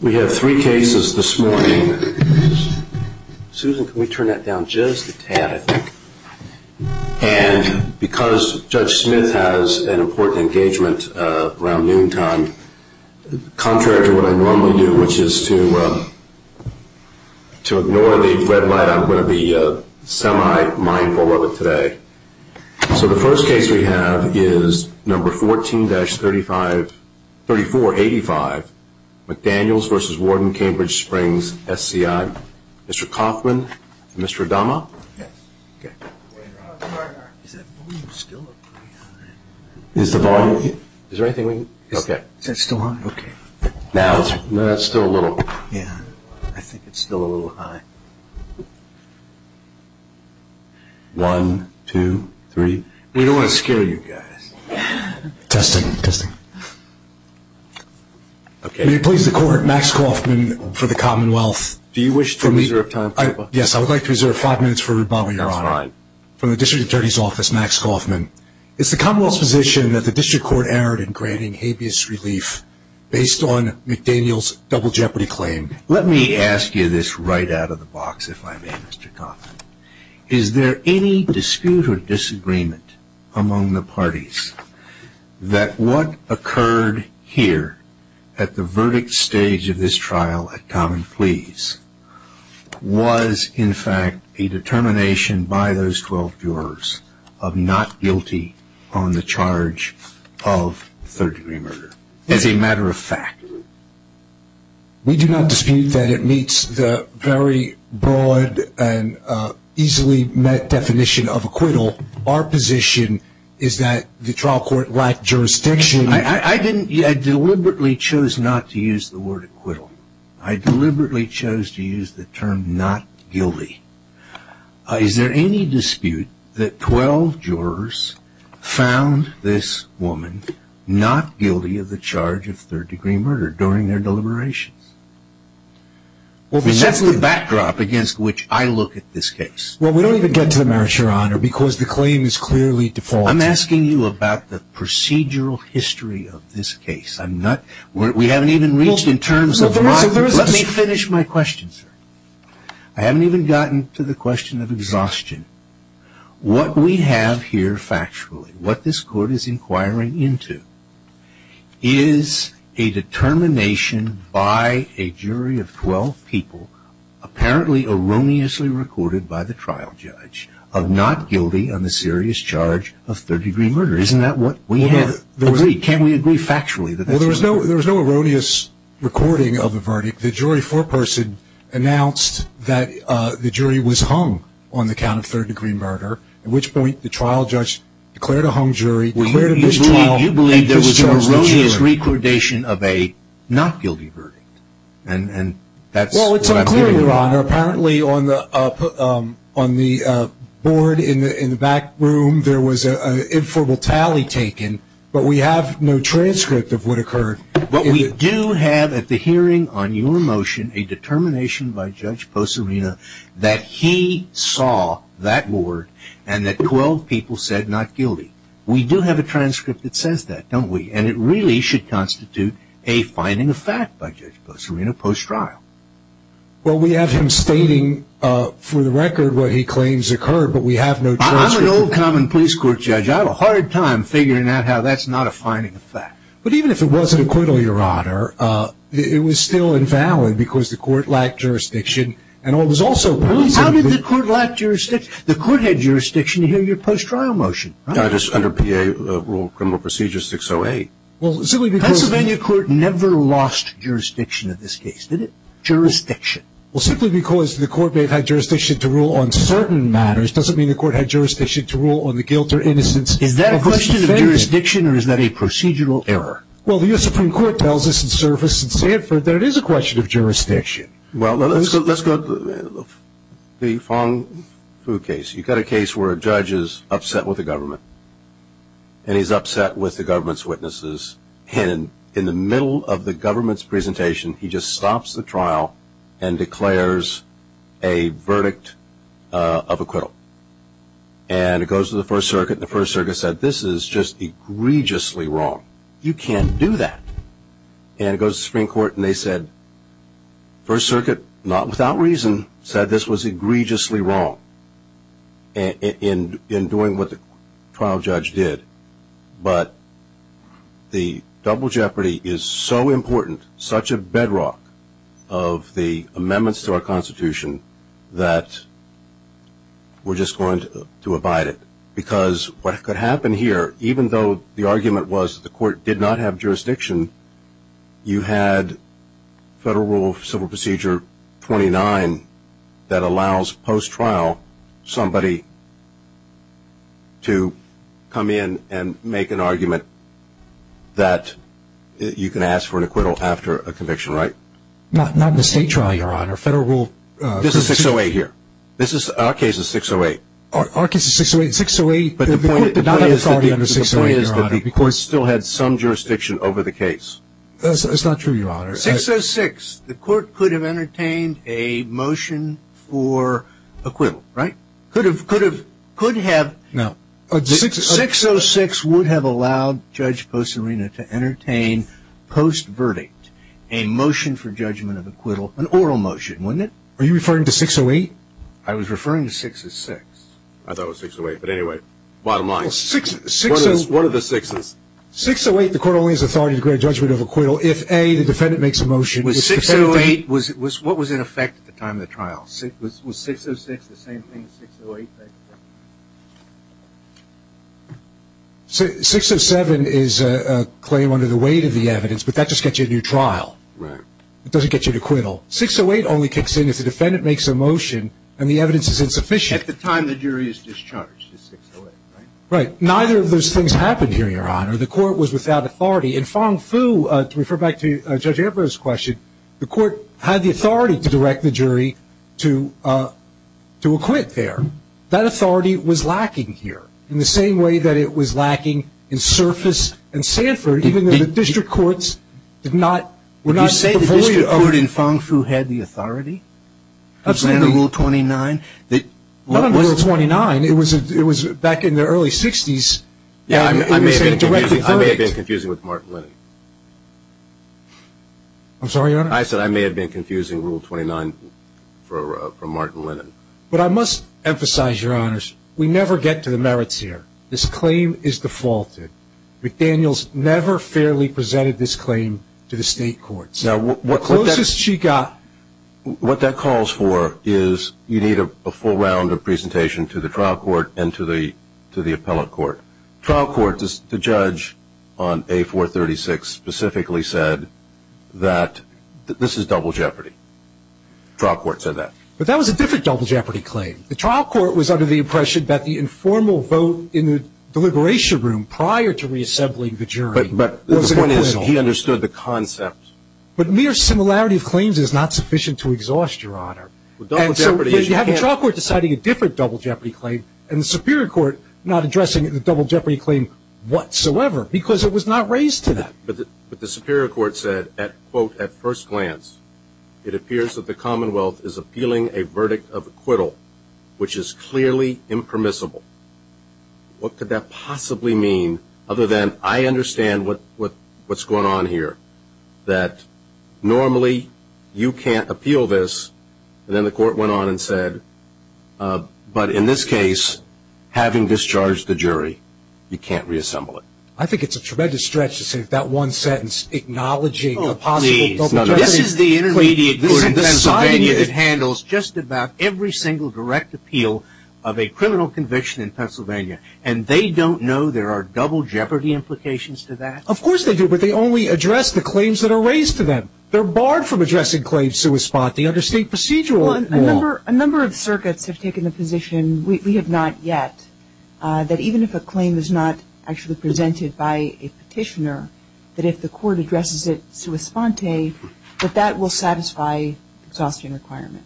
We have three cases this morning. Susan, can we turn that down just a tad? And because Judge Smith has an important engagement around noontime, contrary to what I normally do, which is to ignore the red light, I'm going to be semi-mindful of it today. So the first case we have is number 14-3485 McDaniels v. Warden Cambridge Springs SCI. Mr. Coffman and Mr. Adama. Is the volume still high? I think it's still a little high. One, two, three. We don't want to scare you guys. Testing, testing. May it please the Court, Max Coffman for the Commonwealth. Do you wish to reserve time for me? Yes, I would like to reserve five minutes for Rebama, Your Honor. That's fine. From the District Attorney's Office, Max Coffman. Is the Commonwealth's position that the District Court erred in granting habeas relief based on McDaniels' double jeopardy claim? Let me ask you this right out of the box, if I may, Mr. Coffman. Is there any dispute or disagreement among the parties that what occurred here at the verdict stage of this trial at common pleas was in fact a determination by those 12 jurors of not guilty on the charge of third degree murder, as a matter of fact? We do not dispute that it meets the very broad and easily met definition of acquittal. Our position is that the trial court lacked jurisdiction. I deliberately chose not to use the word acquittal. I deliberately chose to use the term not guilty. Is there any dispute that 12 jurors found this woman not guilty of the charge of third degree murder during their deliberations? That's the backdrop against which I look at this case. Well, we don't even get to the merits, Your Honor, because the claim is clearly defaulted. I'm asking you about the procedural history of this case. We haven't even reached in terms of... Let me finish my question, sir. I haven't even gotten to the question of exhaustion. What we have here factually, what this court is inquiring into, is a determination by a jury of 12 people, apparently erroneously recorded by the trial judge, of not guilty on the serious charge of third degree murder. Isn't that what we have agreed? Can we agree factually that that's what... There was no erroneous recording of the verdict. The jury foreperson announced that the jury was hung on the count of third degree murder, at which point the trial judge declared a hung jury. You believe there was an erroneous recordation of a not guilty verdict? Well, apparently on the board in the back room there was an informal tally taken, but we have no transcript of what occurred. But we do have at the hearing on your motion a determination by Judge Poserena that he saw that board and that 12 people said not guilty. We do have a transcript that says that, don't we? And it really should constitute a finding of fact by Judge Poserena post-trial. Well, we have him stating for the record what he claims occurred, but we have no transcript. I'm an old common police court judge. I have a hard time figuring out how that's not a finding of fact. But even if it was an acquittal, Your Honor, it was still invalid because the court lacked jurisdiction. How did the court lack jurisdiction? The court had jurisdiction in your post-trial motion, right? Under PA rule, criminal procedure 608. Well, simply because the Pennsylvania court never lost jurisdiction in this case, did it? Jurisdiction. Well, simply because the court may have had jurisdiction to rule on certain matters doesn't mean the court had jurisdiction to rule on the guilt or innocence. Is that a question of jurisdiction or is that a procedural error? Well, the U.S. Supreme Court tells us in surface in Sanford that it is a question of jurisdiction. Well, let's go to the Fong-Fu case. You've got a case where a judge is upset with the government, and he's upset with the government's witnesses. And in the middle of the government's presentation, he just stops the trial and declares a verdict of acquittal. And it goes to the First Circuit, and the First Circuit said, this is just egregiously wrong. You can't do that. And it goes to the Supreme Court, and they said, First Circuit, not without reason, said this was egregiously wrong in doing what the trial judge did. But the double jeopardy is so important, such a bedrock of the amendments to our Constitution, that we're just going to abide it. Because what could happen here, even though the argument was the court did not have jurisdiction, you had Federal Rule of Civil Procedure 29 that allows post-trial somebody to come in and make an argument that you can ask for an acquittal after a conviction. Right? Not in a state trial, Your Honor. Federal Rule of Civil Procedure. This is 608 here. Our case is 608. Our case is 608. 608, but the point is that the court still had some jurisdiction over the case. That's not true, Your Honor. 606, the court could have entertained a motion for acquittal, right? Could have, could have, could have. No. 606 would have allowed Judge Poserena to entertain, post-verdict, a motion for judgment of acquittal, an oral motion, wouldn't it? Are you referring to 608? I was referring to 606. I thought it was 608. But anyway, bottom line, what are the sixes? 608, the court only has authority to grant judgment of acquittal if, A, the defendant makes a motion. Was 608, what was in effect at the time of the trial? Was 606 the same thing as 608? 607 is a claim under the weight of the evidence, but that just gets you a new trial. Right. It doesn't get you an acquittal. 608 only kicks in if the defendant makes a motion and the evidence is insufficient. At the time the jury is discharged is 608, right? Right. Neither of those things happened here, Your Honor. The court was without authority. In Fong-Fu, to refer back to Judge Eber's question, the court had the authority to direct the jury to acquit there. That authority was lacking here in the same way that it was lacking in Surface and Sanford, even though the district courts did not, were not available. Did the court in Fong-Fu have the authority? Absolutely. Under Rule 29? It wasn't Rule 29. It was back in the early 60s. I may have been confusing with Martin Lennon. I'm sorry, Your Honor? I said I may have been confusing Rule 29 from Martin Lennon. But I must emphasize, Your Honors, we never get to the merits here. This claim is defaulted. McDaniels never fairly presented this claim to the state courts. Now, what that calls for is you need a full round of presentation to the trial court and to the appellate court. Trial court, the judge on A436 specifically said that this is double jeopardy. Trial court said that. But that was a different double jeopardy claim. The trial court was under the impression that the informal vote in the deliberation room prior to reassembling the jury But the point is he understood the concept. But mere similarity of claims is not sufficient to exhaust, Your Honor. And so you have the trial court deciding a different double jeopardy claim and the Superior Court not addressing the double jeopardy claim whatsoever because it was not raised to that. But the Superior Court said, quote, at first glance, it appears that the Commonwealth is appealing a verdict of acquittal, which is clearly impermissible. What could that possibly mean? Other than I understand what's going on here, that normally you can't appeal this. And then the court went on and said, but in this case, having discharged the jury, you can't reassemble it. I think it's a tremendous stretch to say that one sentence, acknowledging a possible double jeopardy claim. This is Pennsylvania that handles just about every single direct appeal of a criminal conviction in Pennsylvania. And they don't know there are double jeopardy implications to that? Of course they do, but they only address the claims that are raised to them. They're barred from addressing claims sua sponte under state procedural law. A number of circuits have taken the position, we have not yet, that even if a claim is not actually presented by a petitioner, that if the court addresses it sua sponte, that that will satisfy the exhaustion requirement.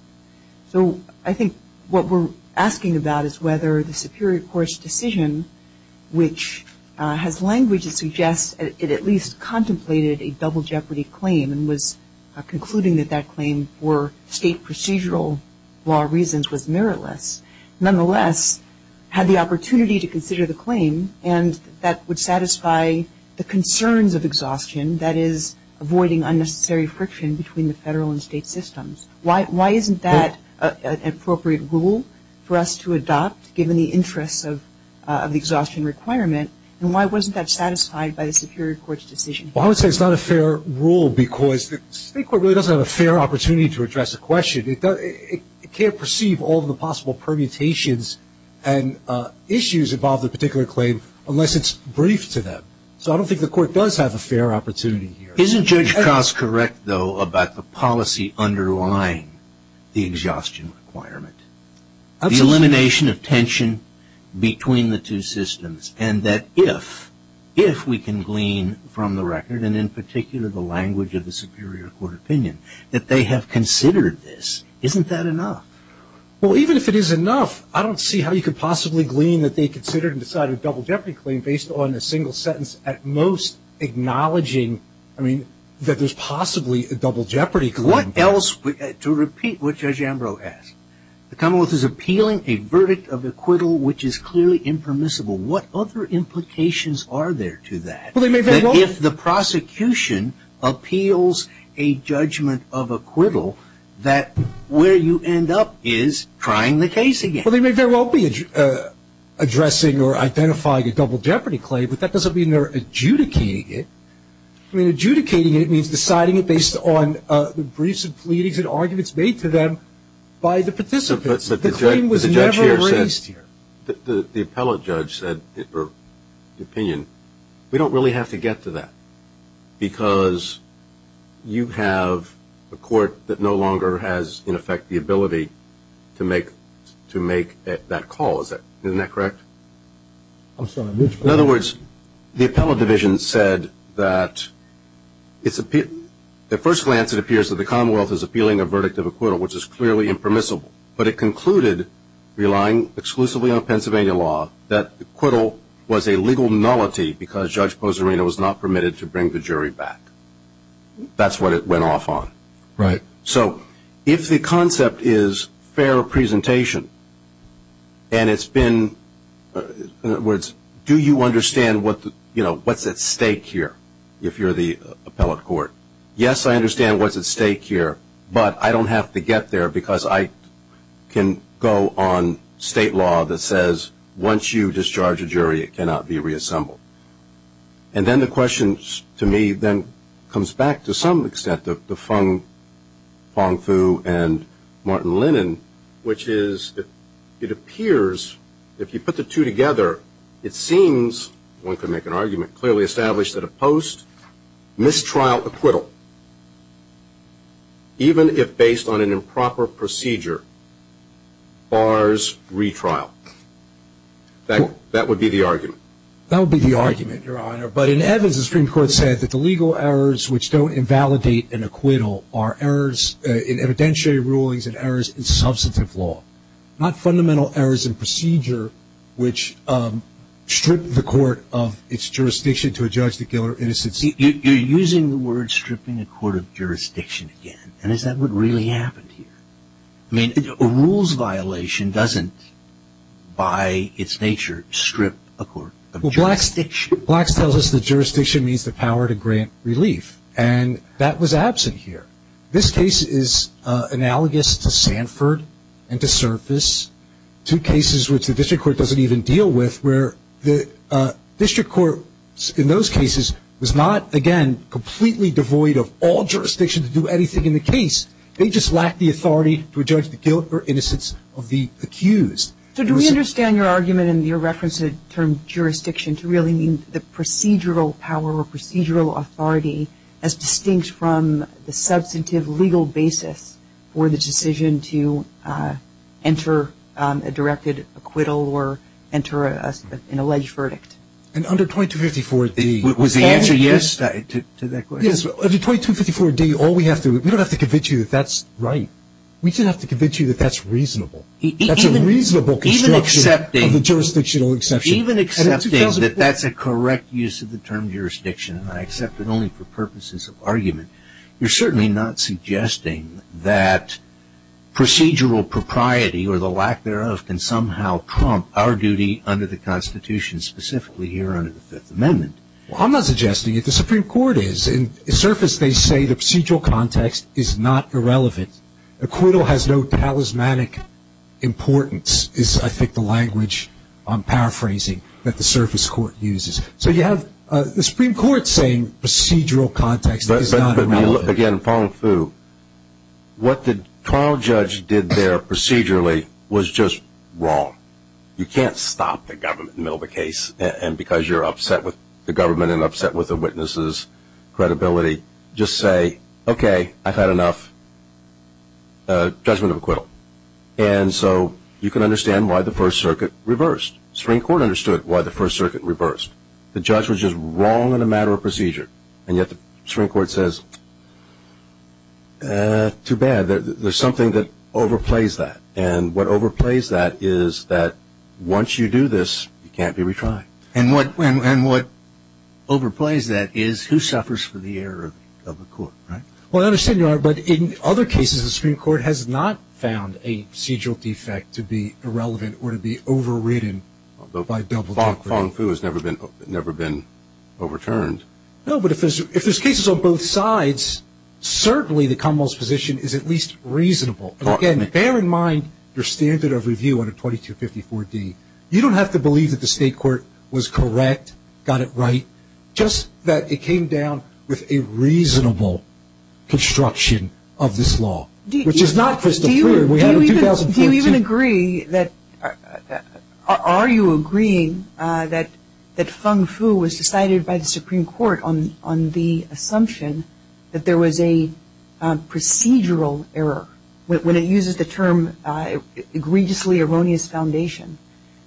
So I think what we're asking about is whether the Superior Court's decision, which has language that suggests it at least contemplated a double jeopardy claim and was concluding that that claim for state procedural law reasons was meritless, nonetheless had the opportunity to consider the claim and that would satisfy the concerns of exhaustion, that is avoiding unnecessary friction between the federal and state systems. Why isn't that an appropriate rule for us to adopt given the interests of the exhaustion requirement? And why wasn't that satisfied by the Superior Court's decision? Well, I would say it's not a fair rule because the state court really doesn't have a fair opportunity to address a question. It can't perceive all of the possible permutations and issues involved in a particular claim unless it's briefed to them. So I don't think the court does have a fair opportunity here. Isn't Judge Koss correct, though, about the policy underlying the exhaustion requirement? Absolutely. The elimination of tension between the two systems and that if we can glean from the record, and in particular the language of the Superior Court opinion, that they have considered this. Isn't that enough? Well, even if it is enough, I don't see how you could possibly glean that they considered and decided a double jeopardy claim based on a single sentence at most acknowledging, I mean, that there's possibly a double jeopardy claim. What else to repeat what Judge Ambrose asked? The Commonwealth is appealing a verdict of acquittal which is clearly impermissible. What other implications are there to that? Well, they may very well be. If the prosecution appeals a judgment of acquittal, that where you end up is trying the case again. Well, they may very well be addressing or identifying a double jeopardy claim, but that doesn't mean they're adjudicating it. I mean, adjudicating it means deciding it based on the briefs and pleadings and arguments made to them by the participants. The claim was never raised here. The appellate judge said in her opinion, we don't really have to get to that because you have a court that no longer has, in effect, the ability to make that call, isn't that correct? In other words, the appellate division said that at first glance, it appears that the Commonwealth is appealing a verdict of acquittal, which is clearly impermissible, but it concluded, relying exclusively on Pennsylvania law, that acquittal was a legal nullity because Judge Poserena was not permitted to bring the jury back. That's what it went off on. Right. So if the concept is fair presentation and it's been, in other words, do you understand what's at stake here if you're the appellate court? Yes, I understand what's at stake here, but I don't have to get there because I can go on state law that says once you discharge a jury, it cannot be reassembled. And then the question, to me, then comes back to some extent to Feng Fu and Martin Lennon, which is it appears if you put the two together, it seems, one could make an argument, clearly established that a post-mistrial acquittal, even if based on an improper procedure, bars retrial. That would be the argument. That would be the argument, Your Honor, but in evidence the Supreme Court said that the legal errors which don't invalidate an acquittal are errors in evidentiary rulings and errors in substantive law, not fundamental errors in procedure which strip the court of its jurisdiction to judge the killer innocent. You're using the word stripping a court of jurisdiction again, and is that what really happened here? A rules violation doesn't, by its nature, strip a court of jurisdiction. Well, Blacks tells us that jurisdiction means the power to grant relief, and that was absent here. This case is analogous to Sanford and to Surface, two cases which the district court doesn't even deal with, where the district court in those cases was not, again, completely devoid of all jurisdiction to do anything in the case. They just lacked the authority to judge the guilt or innocence of the accused. So do we understand your argument in your reference to the term jurisdiction to really mean the procedural power or procedural authority as distinct from the substantive legal basis for the decision to enter a directed acquittal or enter an alleged verdict? And under 2254D, Was the answer yes to that question? Yes. Under 2254D, we don't have to convince you that that's right. We just have to convince you that that's reasonable. That's a reasonable construction of the jurisdictional exception. Even accepting that that's a correct use of the term jurisdiction, and I accept it only for purposes of argument, you're certainly not suggesting that procedural propriety or the lack thereof can somehow prompt our duty under the Constitution, specifically here under the Fifth Amendment. Well, I'm not suggesting it. The Supreme Court is. In surface, they say the procedural context is not irrelevant. Acquittal has no talismanic importance is, I think, the language I'm paraphrasing that the surface court uses. So you have the Supreme Court saying procedural context is not irrelevant. But, again, Feng Fu, what the trial judge did there procedurally was just wrong. You can't stop the government in the middle of a case and because you're upset with the government and upset with the witness's credibility, just say, okay, I've had enough judgment of acquittal. And so you can understand why the First Circuit reversed. The Supreme Court understood why the First Circuit reversed. The judge was just wrong in a matter of procedure. And yet the Supreme Court says, too bad. There's something that overplays that. And what overplays that is that once you do this, you can't be retried. And what overplays that is who suffers for the error of the court, right? Well, I understand you are, but in other cases the Supreme Court has not found a procedural defect to be irrelevant or to be overridden by double-dealing. Feng Fu has never been overturned. No, but if there's cases on both sides, certainly the Commonwealth's position is at least reasonable. And, again, bear in mind your standard of review under 2254D. You don't have to believe that the state court was correct, got it right, just that it came down with a reasonable construction of this law, which is not Christopher. Do you even agree that, are you agreeing that Feng Fu was decided by the Supreme Court on the assumption that there was a procedural error, when it uses the term egregiously erroneous foundation,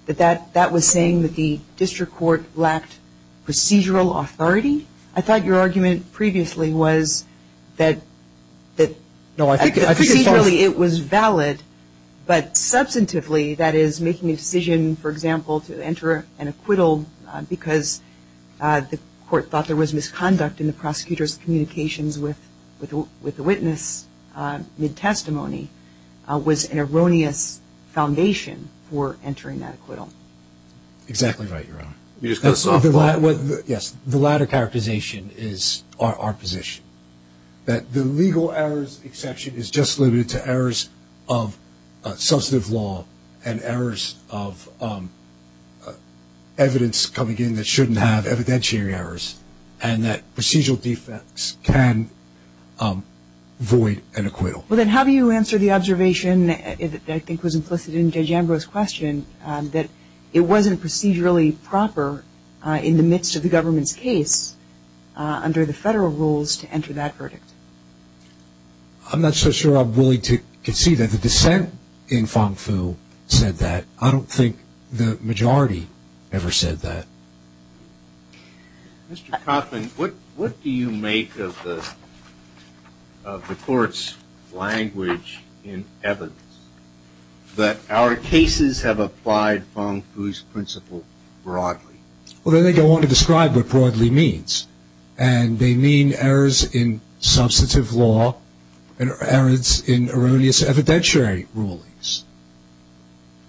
that that was saying that the district court lacked procedural authority? I thought your argument previously was that procedurally it was valid, but substantively that is making a decision, for example, to enter an acquittal because the court thought there was misconduct in the prosecutor's communications with the witness mid-testimony was an erroneous foundation for entering that acquittal. Exactly right, Your Honor. The latter characterization is our position, that the legal errors exception is just limited to errors of substantive law and errors of evidence coming in that shouldn't have evidentiary errors, and that procedural defects can void an acquittal. Well, then how do you answer the observation that I think was implicit in J. Jambro's question, that it wasn't procedurally proper in the midst of the government's case under the federal rules to enter that verdict? I'm not so sure I'm willing to concede that the dissent in Fong-Fu said that. I don't think the majority ever said that. Mr. Coffin, what do you make of the Court's language in evidence, that our cases have applied Fong-Fu's principle broadly? Well, then I don't want to describe what broadly means, and they mean errors in substantive law and errors in erroneous evidentiary rulings.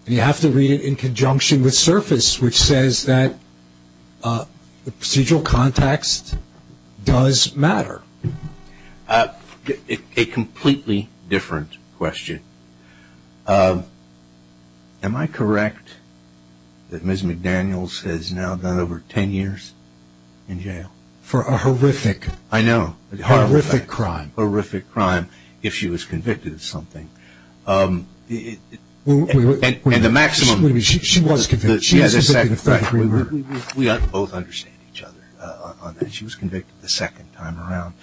And you have to read it in conjunction with surface, which says that the procedural context does matter. A completely different question. Am I correct that Ms. McDaniels has now done over ten years in jail? For a horrific crime. I know. Horrific crime. Horrific crime, if she was convicted of something. She was convicted. She has been convicted of three murders. We both understand each other on that. She was convicted the second time around.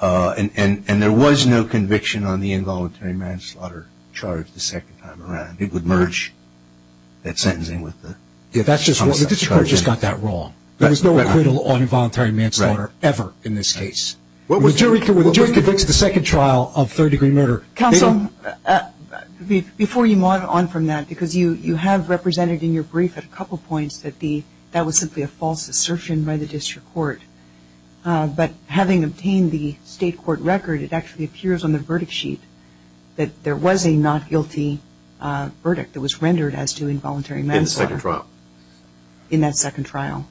And there was no conviction on the involuntary manslaughter charge the second time around. It would merge that sentencing with the. The District Court just got that wrong. There was no acquittal on involuntary manslaughter ever in this case. The jury convicts the second trial of third-degree murder. Counsel, before you move on from that, because you have represented in your brief at a couple points that that was simply a false assertion by the District Court. But having obtained the State Court record, it actually appears on the verdict sheet that there was a not guilty verdict that was rendered as to involuntary manslaughter. In the second trial. In that second trial.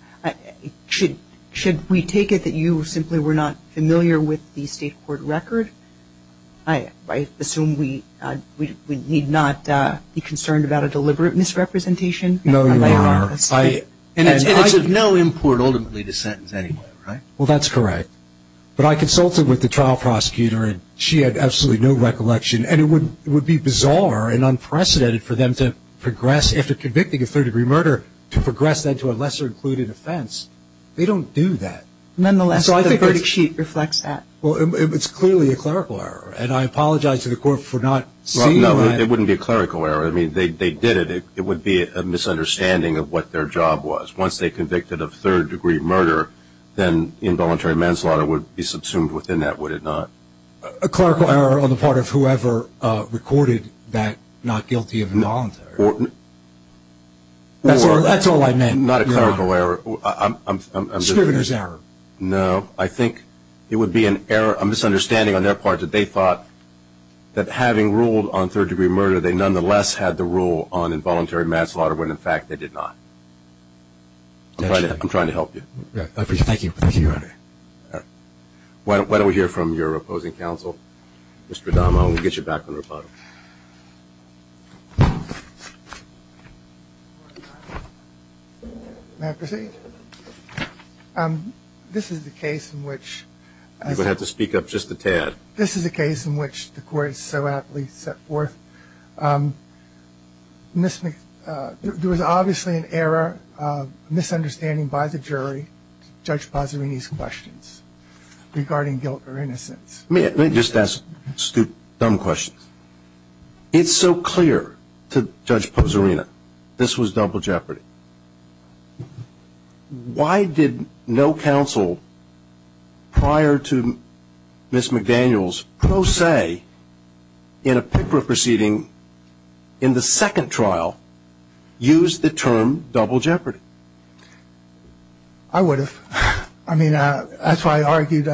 Should we take it that you simply were not familiar with the State Court record? I assume we need not be concerned about a deliberate misrepresentation? No, Your Honor. And it's of no import ultimately to sentence anyone, right? Well, that's correct. But I consulted with the trial prosecutor, and she had absolutely no recollection. And it would be bizarre and unprecedented for them to progress, after convicting a third-degree murder, to progress that to a lesser-included offense. They don't do that. Nonetheless, the verdict sheet reflects that. Well, it's clearly a clerical error. And I apologize to the Court for not seeing that. Well, no, it wouldn't be a clerical error. I mean, they did it. It would be a misunderstanding of what their job was. Once they convicted of third-degree murder, then involuntary manslaughter would be subsumed within that, would it not? A clerical error on the part of whoever recorded that not guilty of involuntary. That's all I meant. Not a clerical error. A scrivener's error. No. I think it would be a misunderstanding on their part that they thought that having ruled on third-degree murder, they nonetheless had the rule on involuntary manslaughter when, in fact, they did not. I'm trying to help you. Thank you, Your Honor. Why don't we hear from your opposing counsel, Mr. Adama, and we'll get you back on the rebuttal. May I proceed? This is the case in which as a – You're going to have to speak up just a tad. This is the case in which the court so aptly set forth. There was obviously an error, a misunderstanding by the jury to Judge Pozzerini's questions regarding guilt or innocence. Let me just ask two dumb questions. It's so clear to Judge Pozzerini this was double jeopardy. Why did no counsel prior to Ms. McDaniel's pro se in a PICRA proceeding in the second trial use the term double jeopardy? I would have. I mean, that's why I argued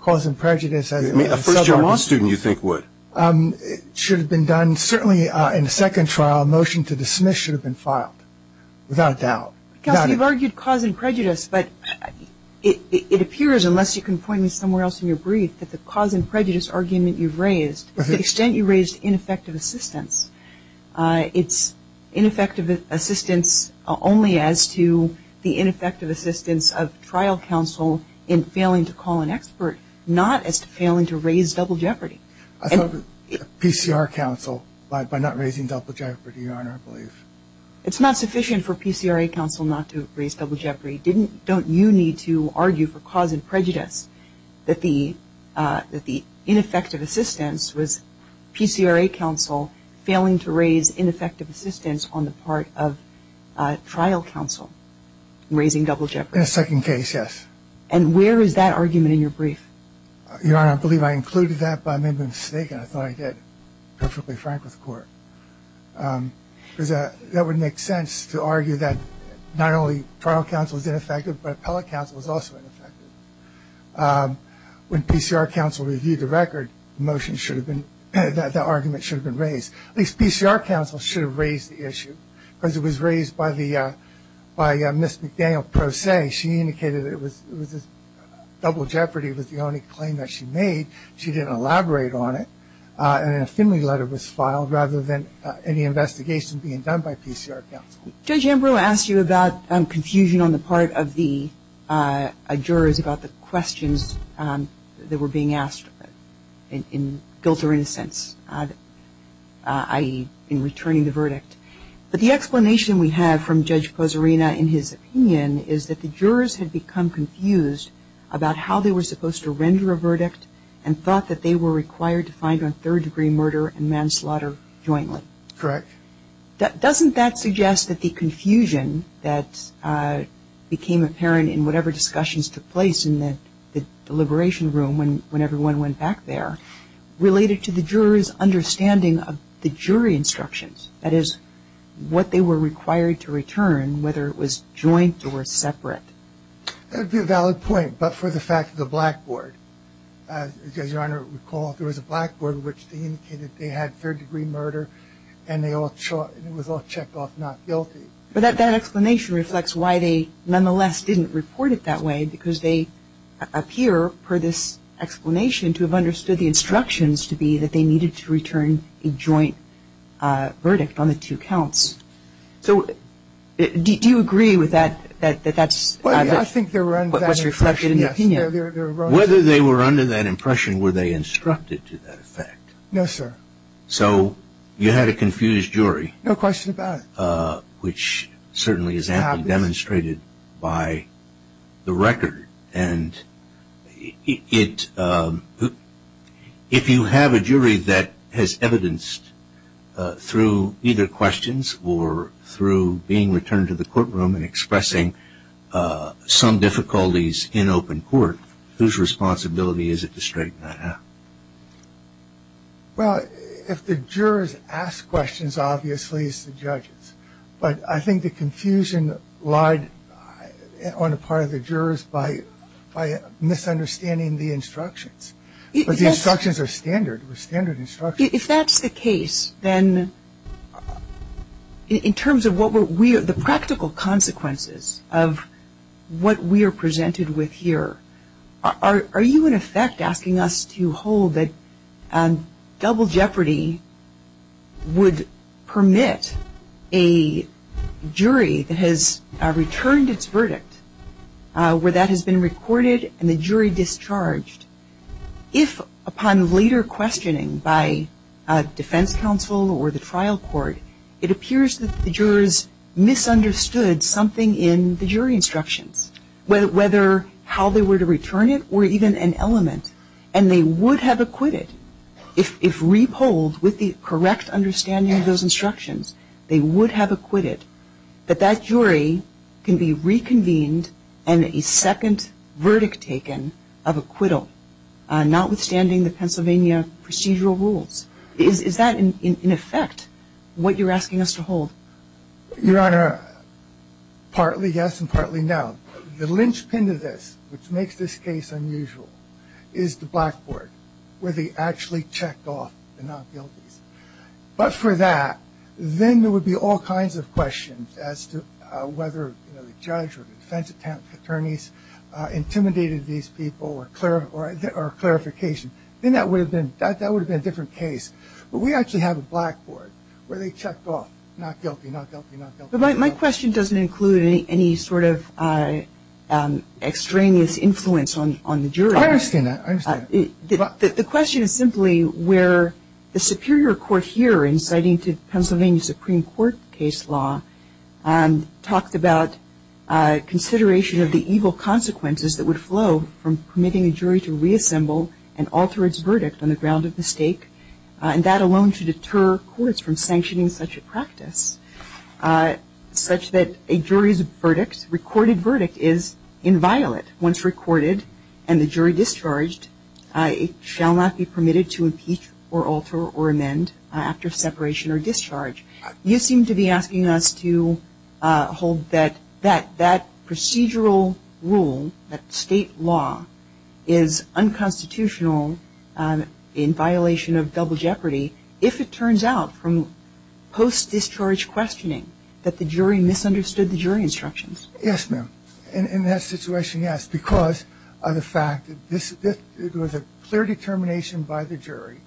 cause and prejudice. I mean, a first-year law student, you think, would. It should have been done. Certainly in the second trial, a motion to dismiss should have been filed without doubt. Counsel, you've argued cause and prejudice, but it appears unless you can point me somewhere else in your brief that the cause and prejudice argument you've raised, to the extent you raised ineffective assistance, it's ineffective assistance only as to the ineffective assistance of trial counsel in failing to call an expert, not as to failing to raise double jeopardy. PCR counsel by not raising double jeopardy, Your Honor, I believe. It's not sufficient for PCRA counsel not to raise double jeopardy. Don't you need to argue for cause and prejudice that the ineffective assistance was PCRA counsel failing to raise ineffective assistance on the part of trial counsel raising double jeopardy? In a second case, yes. And where is that argument in your brief? Your Honor, I believe I included that, but I may have been mistaken. I thought I did. I'm perfectly frank with the court. Because that would make sense to argue that not only trial counsel is ineffective, but appellate counsel is also ineffective. When PCR counsel reviewed the record, the argument should have been raised. At least PCR counsel should have raised the issue, because it was raised by Ms. McDaniel Pro Se. She indicated it was double jeopardy was the only claim that she made. She didn't elaborate on it. And an affidavit letter was filed rather than any investigation being done by PCR counsel. Judge Ambrose asked you about confusion on the part of the jurors about the questions that were being asked in guilt or innocence, i.e. in returning the verdict. But the explanation we have from Judge Pozzarina in his opinion is that the jurors had become confused about how they were supposed to render a verdict and thought that they were required to find on third-degree murder and manslaughter jointly. Correct. Doesn't that suggest that the confusion that became apparent in whatever discussions took place in the deliberation room when everyone went back there related to the jurors' understanding of the jury instructions, that is, what they were required to return, whether it was joint or separate? That would be a valid point, but for the fact of the blackboard. As Your Honor would recall, there was a blackboard in which they indicated they had third-degree murder and it was all checked off not guilty. But that explanation reflects why they nonetheless didn't report it that way, because they appear, per this explanation, to have understood the instructions to be that they needed to return a joint verdict on the two counts. So do you agree with that? I think they were under that impression, yes. Whether they were under that impression, were they instructed to that effect? No, sir. So you had a confused jury. No question about it. Which certainly is amply demonstrated by the record, and if you have a jury that has evidenced through either questions or through being returned to the courtroom and expressing some difficulties in open court, whose responsibility is it to straighten that out? Well, if the jurors ask questions, obviously it's the judges. But I think the confusion lied on the part of the jurors by misunderstanding the instructions. But the instructions are standard. They're standard instructions. If that's the case, then in terms of the practical consequences of what we are presented with here, are you, in effect, asking us to hold that double jeopardy would permit a jury that has returned its verdict, where that has been recorded and the jury discharged? If, upon later questioning by defense counsel or the trial court, it appears that the jurors misunderstood something in the jury instructions, whether how they were to return it or even an element, and they would have acquitted, if re-polled with the correct understanding of those instructions, they would have acquitted, that that jury can be reconvened and a second verdict taken of acquittal, notwithstanding the Pennsylvania procedural rules. Is that, in effect, what you're asking us to hold? Your Honor, partly yes and partly no. The linchpin to this, which makes this case unusual, is the blackboard where they actually checked off the not guilties. But for that, then there would be all kinds of questions as to whether the judge or the defense attorneys intimidated these people or clarification. Then that would have been a different case. But we actually have a blackboard where they checked off not guilty, not guilty, not guilty. But my question doesn't include any sort of extraneous influence on the jury. I understand that. I understand that. The question is simply where the superior court here, inciting to Pennsylvania Supreme Court case law, talked about consideration of the evil consequences that would flow from permitting a jury to reassemble and alter its verdict on the ground of mistake, and that alone should deter courts from sanctioning such a practice, such that a jury's verdict, recorded verdict, is inviolate. Once recorded and the jury discharged, it shall not be permitted to impeach or alter or amend after separation or discharge. You seem to be asking us to hold that that procedural rule, that state law, is unconstitutional in violation of double jeopardy, if it turns out from post-discharge questioning that the jury misunderstood the jury instructions. Yes, ma'am. In that situation, yes, because of the fact that it was a clear determination by the jury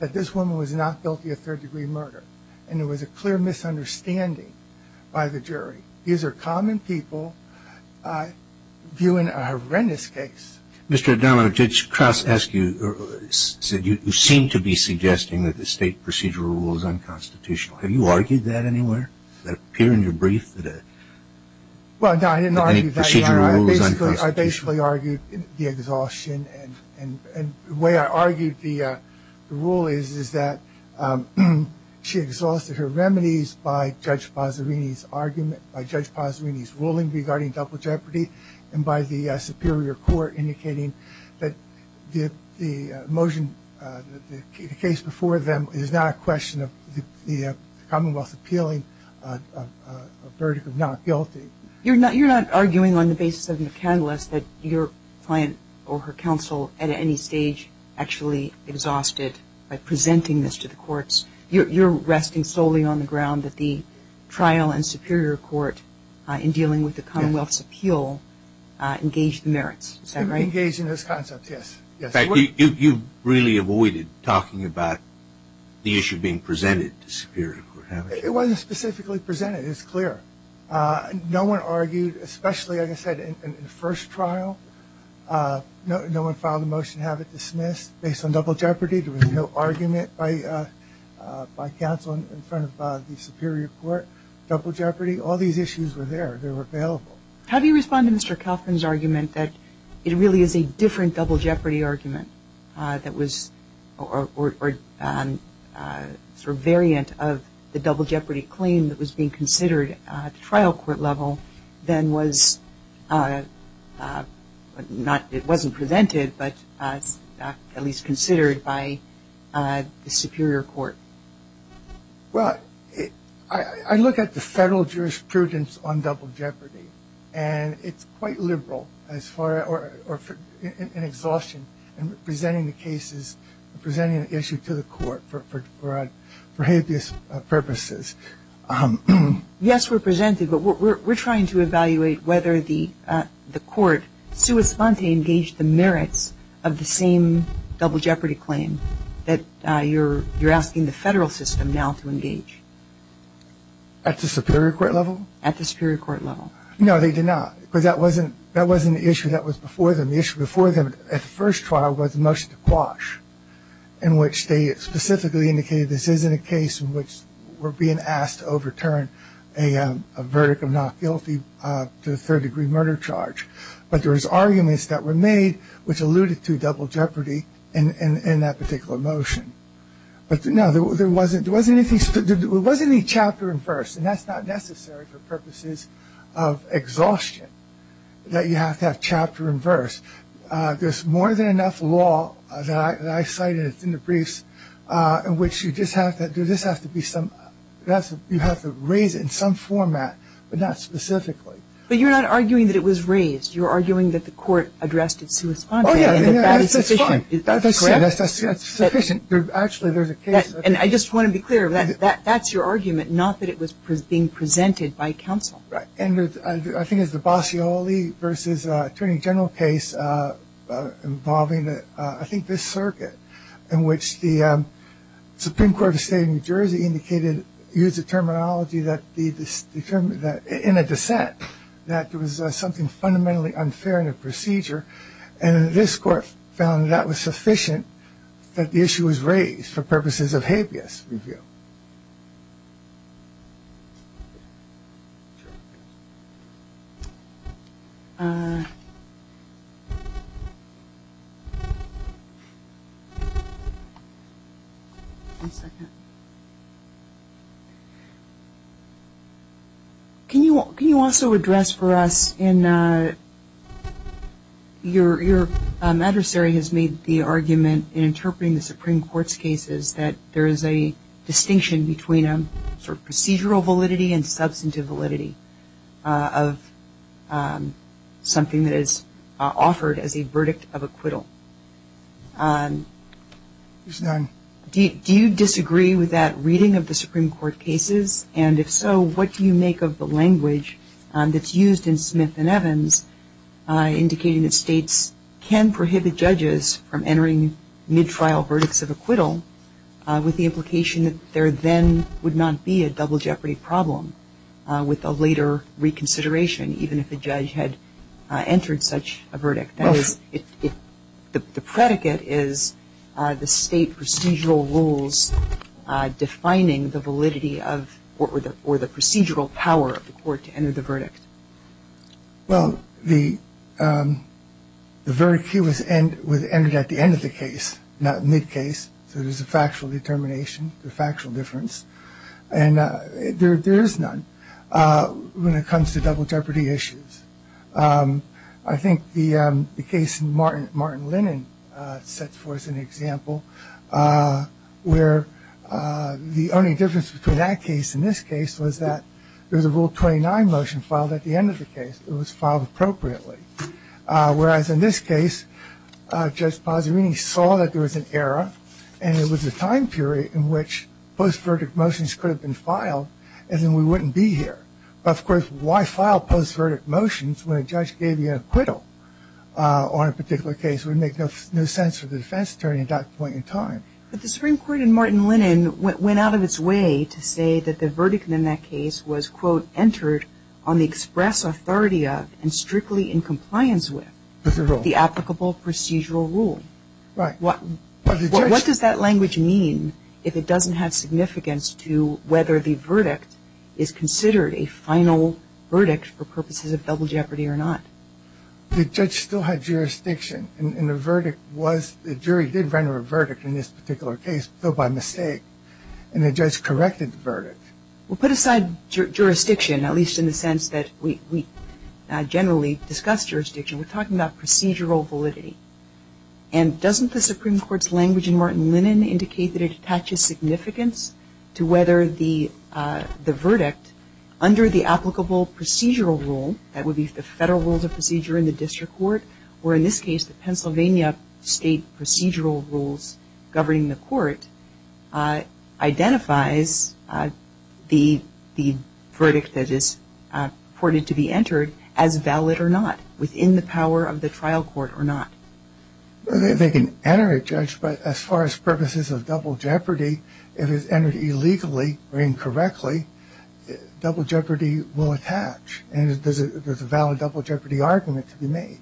that this woman was not guilty of third-degree murder, and there was a clear misunderstanding by the jury. These are common people viewing a horrendous case. Mr. O'Donnell, Judge Krauss asked you, said you seem to be suggesting that the state procedural rule is unconstitutional. Have you argued that anywhere? Does that appear in your brief that any procedural rule is unconstitutional? Well, no, I didn't argue that. I basically argued the exhaustion, and the way I argued the rule is that she exhausted her remedies by Judge Pazzerini's argument, by Judge Pazzerini's ruling regarding double jeopardy, and by the superior court indicating that the motion, the case before them is not a question of the Commonwealth appealing a verdict of not guilty. You're not arguing on the basis of McCandless that your client or her counsel at any stage actually exhausted by presenting this to the courts. You're resting solely on the ground that the trial and superior court in dealing with the Commonwealth's appeal engaged the merits. Is that right? Engaged in this concept, yes. In fact, you really avoided talking about the issue being presented to superior court. It wasn't specifically presented. It's clear. No one argued, especially, like I said, in the first trial. No one filed a motion to have it dismissed. Based on double jeopardy, there was no argument by counsel in front of the superior court. Double jeopardy, all these issues were there. They were available. Have you responded to Mr. Kaufman's argument that it really is a different double jeopardy argument that was sort of variant of the double jeopardy claim that was being considered at trial court level than was not, it wasn't presented, but at least considered by the superior court? Well, I look at the federal jurisprudence on double jeopardy, and it's quite liberal in exhaustion in presenting the cases, presenting the issue to the court for habeas purposes. Yes, we're presenting, but we're trying to evaluate whether the court sui sponte engaged the merits of the same double jeopardy claim that you're asking the federal system now to engage. At the superior court level? At the superior court level. No, they did not. Because that wasn't the issue that was before them. The issue before them at the first trial was the motion to quash, in which they specifically indicated this isn't a case in which we're being asked to overturn a verdict of not guilty to a third-degree murder charge. But there was arguments that were made which alluded to double jeopardy in that particular motion. But, no, there wasn't any chapter and verse, and that's not necessary for purposes of exhaustion, that you have to have chapter and verse. There's more than enough law that I cited in the briefs in which you just have to do this, you have to raise it in some format, but not specifically. But you're not arguing that it was raised. You're arguing that the court addressed it sui sponte. Oh, yeah, that's fine. That's sufficient. Actually, there's a case. And I just want to be clear, that's your argument, not that it was being presented by counsel. Right. And I think it's the Bassioli v. Attorney General case involving, I think, this circuit, in which the Supreme Court of the State of New Jersey indicated, used the terminology in a dissent, that there was something fundamentally unfair in the procedure. And this court found that was sufficient that the issue was raised for purposes of habeas review. Can you also address for us in your adversary has made the argument in interpreting the Supreme Court's cases that there is a distinction between a case of procedural validity and substantive validity of something that is offered as a verdict of acquittal. Do you disagree with that reading of the Supreme Court cases? And if so, what do you make of the language that's used in Smith and Evans indicating that states can prohibit judges from entering mid-trial verdicts of acquittal with the implication that there then would not be a double jeopardy problem with a later reconsideration, even if the judge had entered such a verdict? That is, the predicate is the state procedural rules defining the validity of or the procedural power of the court to enter the verdict. Well, the verdict here was entered at the end of the case, not mid-case. So there's a factual determination, a factual difference. And there is none when it comes to double jeopardy issues. I think the case in Martin Lennon sets forth an example where the only difference between that case and this case was that there was a Rule 29 motion filed at the end of the case. It was filed appropriately. Whereas in this case, Judge Pasarini saw that there was an error and it was a time period in which post-verdict motions could have been filed and then we wouldn't be here. Of course, why file post-verdict motions when a judge gave you an acquittal on a particular case would make no sense for the defense attorney at that point in time. But the Supreme Court in Martin Lennon went out of its way to say that the verdict in that case was, quote, entered on the express authority of and strictly in compliance with the applicable procedural rule. Right. What does that language mean if it doesn't have significance to whether the verdict is considered a final verdict for purposes of double jeopardy or not? The judge still had jurisdiction. And the verdict was, the jury did render a verdict in this particular case, though by mistake. And the judge corrected the verdict. Well, put aside jurisdiction, at least in the sense that we generally discuss jurisdiction. We're talking about procedural validity. And doesn't the Supreme Court's language in Martin Lennon indicate that it attaches significance to whether the verdict under the applicable procedural rule, that would be the federal rules of procedure in the district court, or in this case the Pennsylvania state procedural rules governing the court, identifies the verdict that is reported to be entered as valid or not within the power of the trial court or not? They can enter it, Judge, but as far as purposes of double jeopardy, if it's entered illegally or incorrectly, double jeopardy will attach. And there's a valid double jeopardy argument to be made.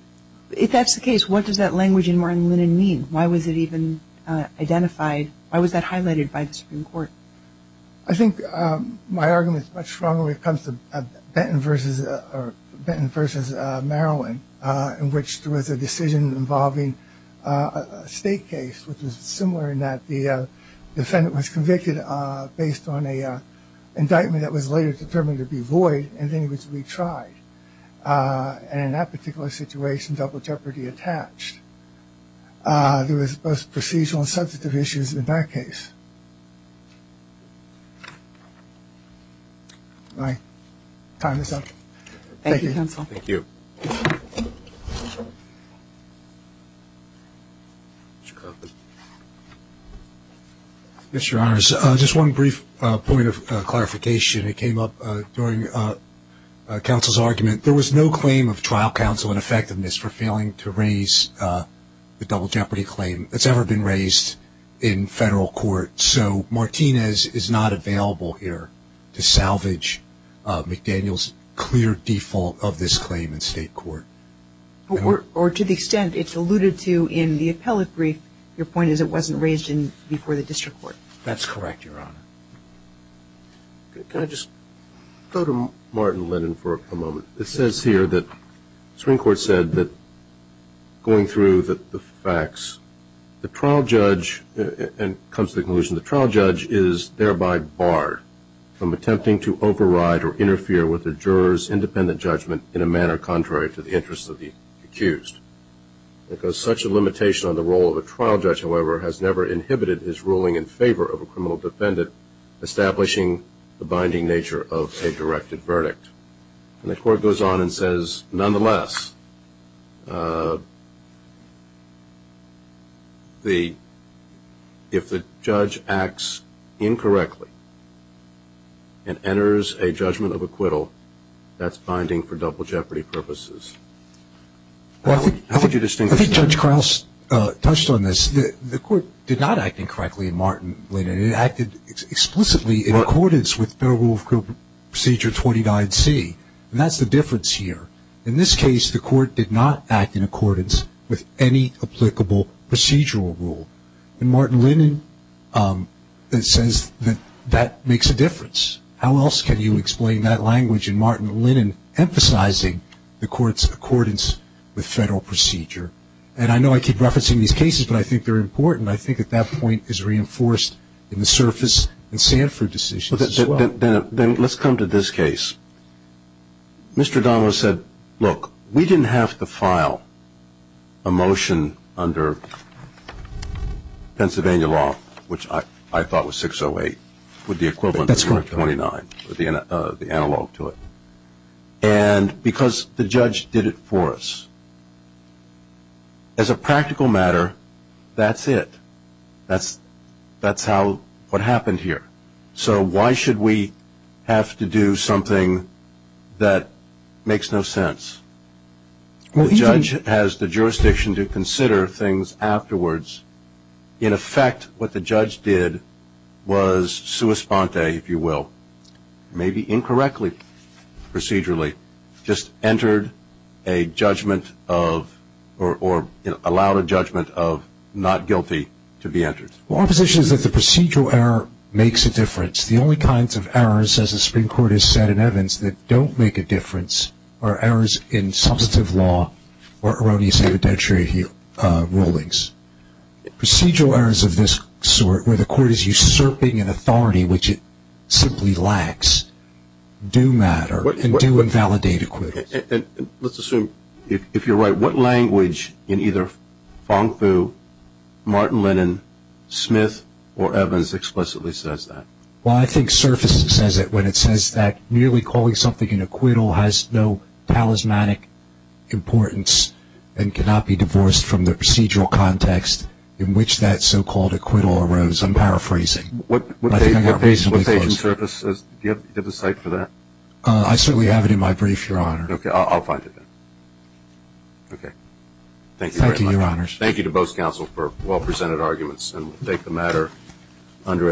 If that's the case, what does that language in Martin Lennon mean? Why was it even identified? Why was that highlighted by the Supreme Court? I think my argument is much stronger when it comes to Benton v. Maryland, in which there was a decision involving a state case, which was similar in that the defendant was convicted based on an indictment that was later determined to be void and then was retried. And in that particular situation, double jeopardy attached. There was both procedural and substantive issues in that case. My time is up. Thank you, counsel. Thank you. Mr. Carpenter. Yes, Your Honors. Just one brief point of clarification that came up during counsel's argument. There was no claim of trial counsel and effectiveness for failing to raise the double jeopardy claim. It's never been raised in federal court. So Martinez is not available here to salvage McDaniel's clear default of this claim in state court. Or to the extent it's alluded to in the appellate brief, your point is it wasn't raised before the district court. That's correct, Your Honor. Can I just go to Martin Lennon for a moment? It says here that the Supreme Court said that going through the facts, the trial judge comes to the conclusion the trial judge is thereby barred from attempting to override or interfere with the juror's independent judgment in a manner contrary to the interests of the accused. Because such a limitation on the role of a trial judge, however, has never inhibited his ruling in favor of a criminal defendant, establishing the binding nature of a directed verdict. And the court goes on and says, nonetheless, if the judge acts incorrectly and enters a judgment of acquittal, that's binding for double jeopardy purposes. I think Judge Krauss touched on this. The court did not act incorrectly in Martin Lennon. It acted explicitly in accordance with Federal Rule of Procedure 29C. And that's the difference here. In this case, the court did not act in accordance with any applicable procedural rule. And Martin Lennon says that that makes a difference. How else can you explain that language in Martin Lennon, emphasizing the court's accordance with Federal procedure? And I know I keep referencing these cases, but I think they're important. And I think at that point it's reinforced in the Surface and Sanford decisions as well. Then let's come to this case. Mr. Donovan said, look, we didn't have to file a motion under Pennsylvania law, which I thought was 608, with the equivalent of 129, the analog to it. And because the judge did it for us. As a practical matter, that's it. That's what happened here. So why should we have to do something that makes no sense? The judge has the jurisdiction to consider things afterwards. In effect, what the judge did was sua sponte, if you will, maybe incorrectly procedurally, just entered a judgment of or allowed a judgment of not guilty to be entered. Well, our position is that the procedural error makes a difference. The only kinds of errors, as the Supreme Court has said in Evans, that don't make a difference are errors in substantive law or erroneous evidentiary rulings. Procedural errors of this sort, where the court is usurping an authority which it simply lacks, do matter. And do invalidate acquittals. Let's assume, if you're right, what language in either Fong Fu, Martin Lennon, Smith, or Evans explicitly says that? Well, I think surface says it when it says that merely calling something an acquittal has no talismanic importance and cannot be divorced from the procedural context in which that so-called acquittal arose. I'm paraphrasing. I think I got reasonably close. Do you have a cite for that? I certainly have it in my brief, Your Honor. Okay. I'll find it then. Thank you very much. Thank you, Your Honors. Thank you to both counsel for well-presented arguments, and we'll take the matter under advisement.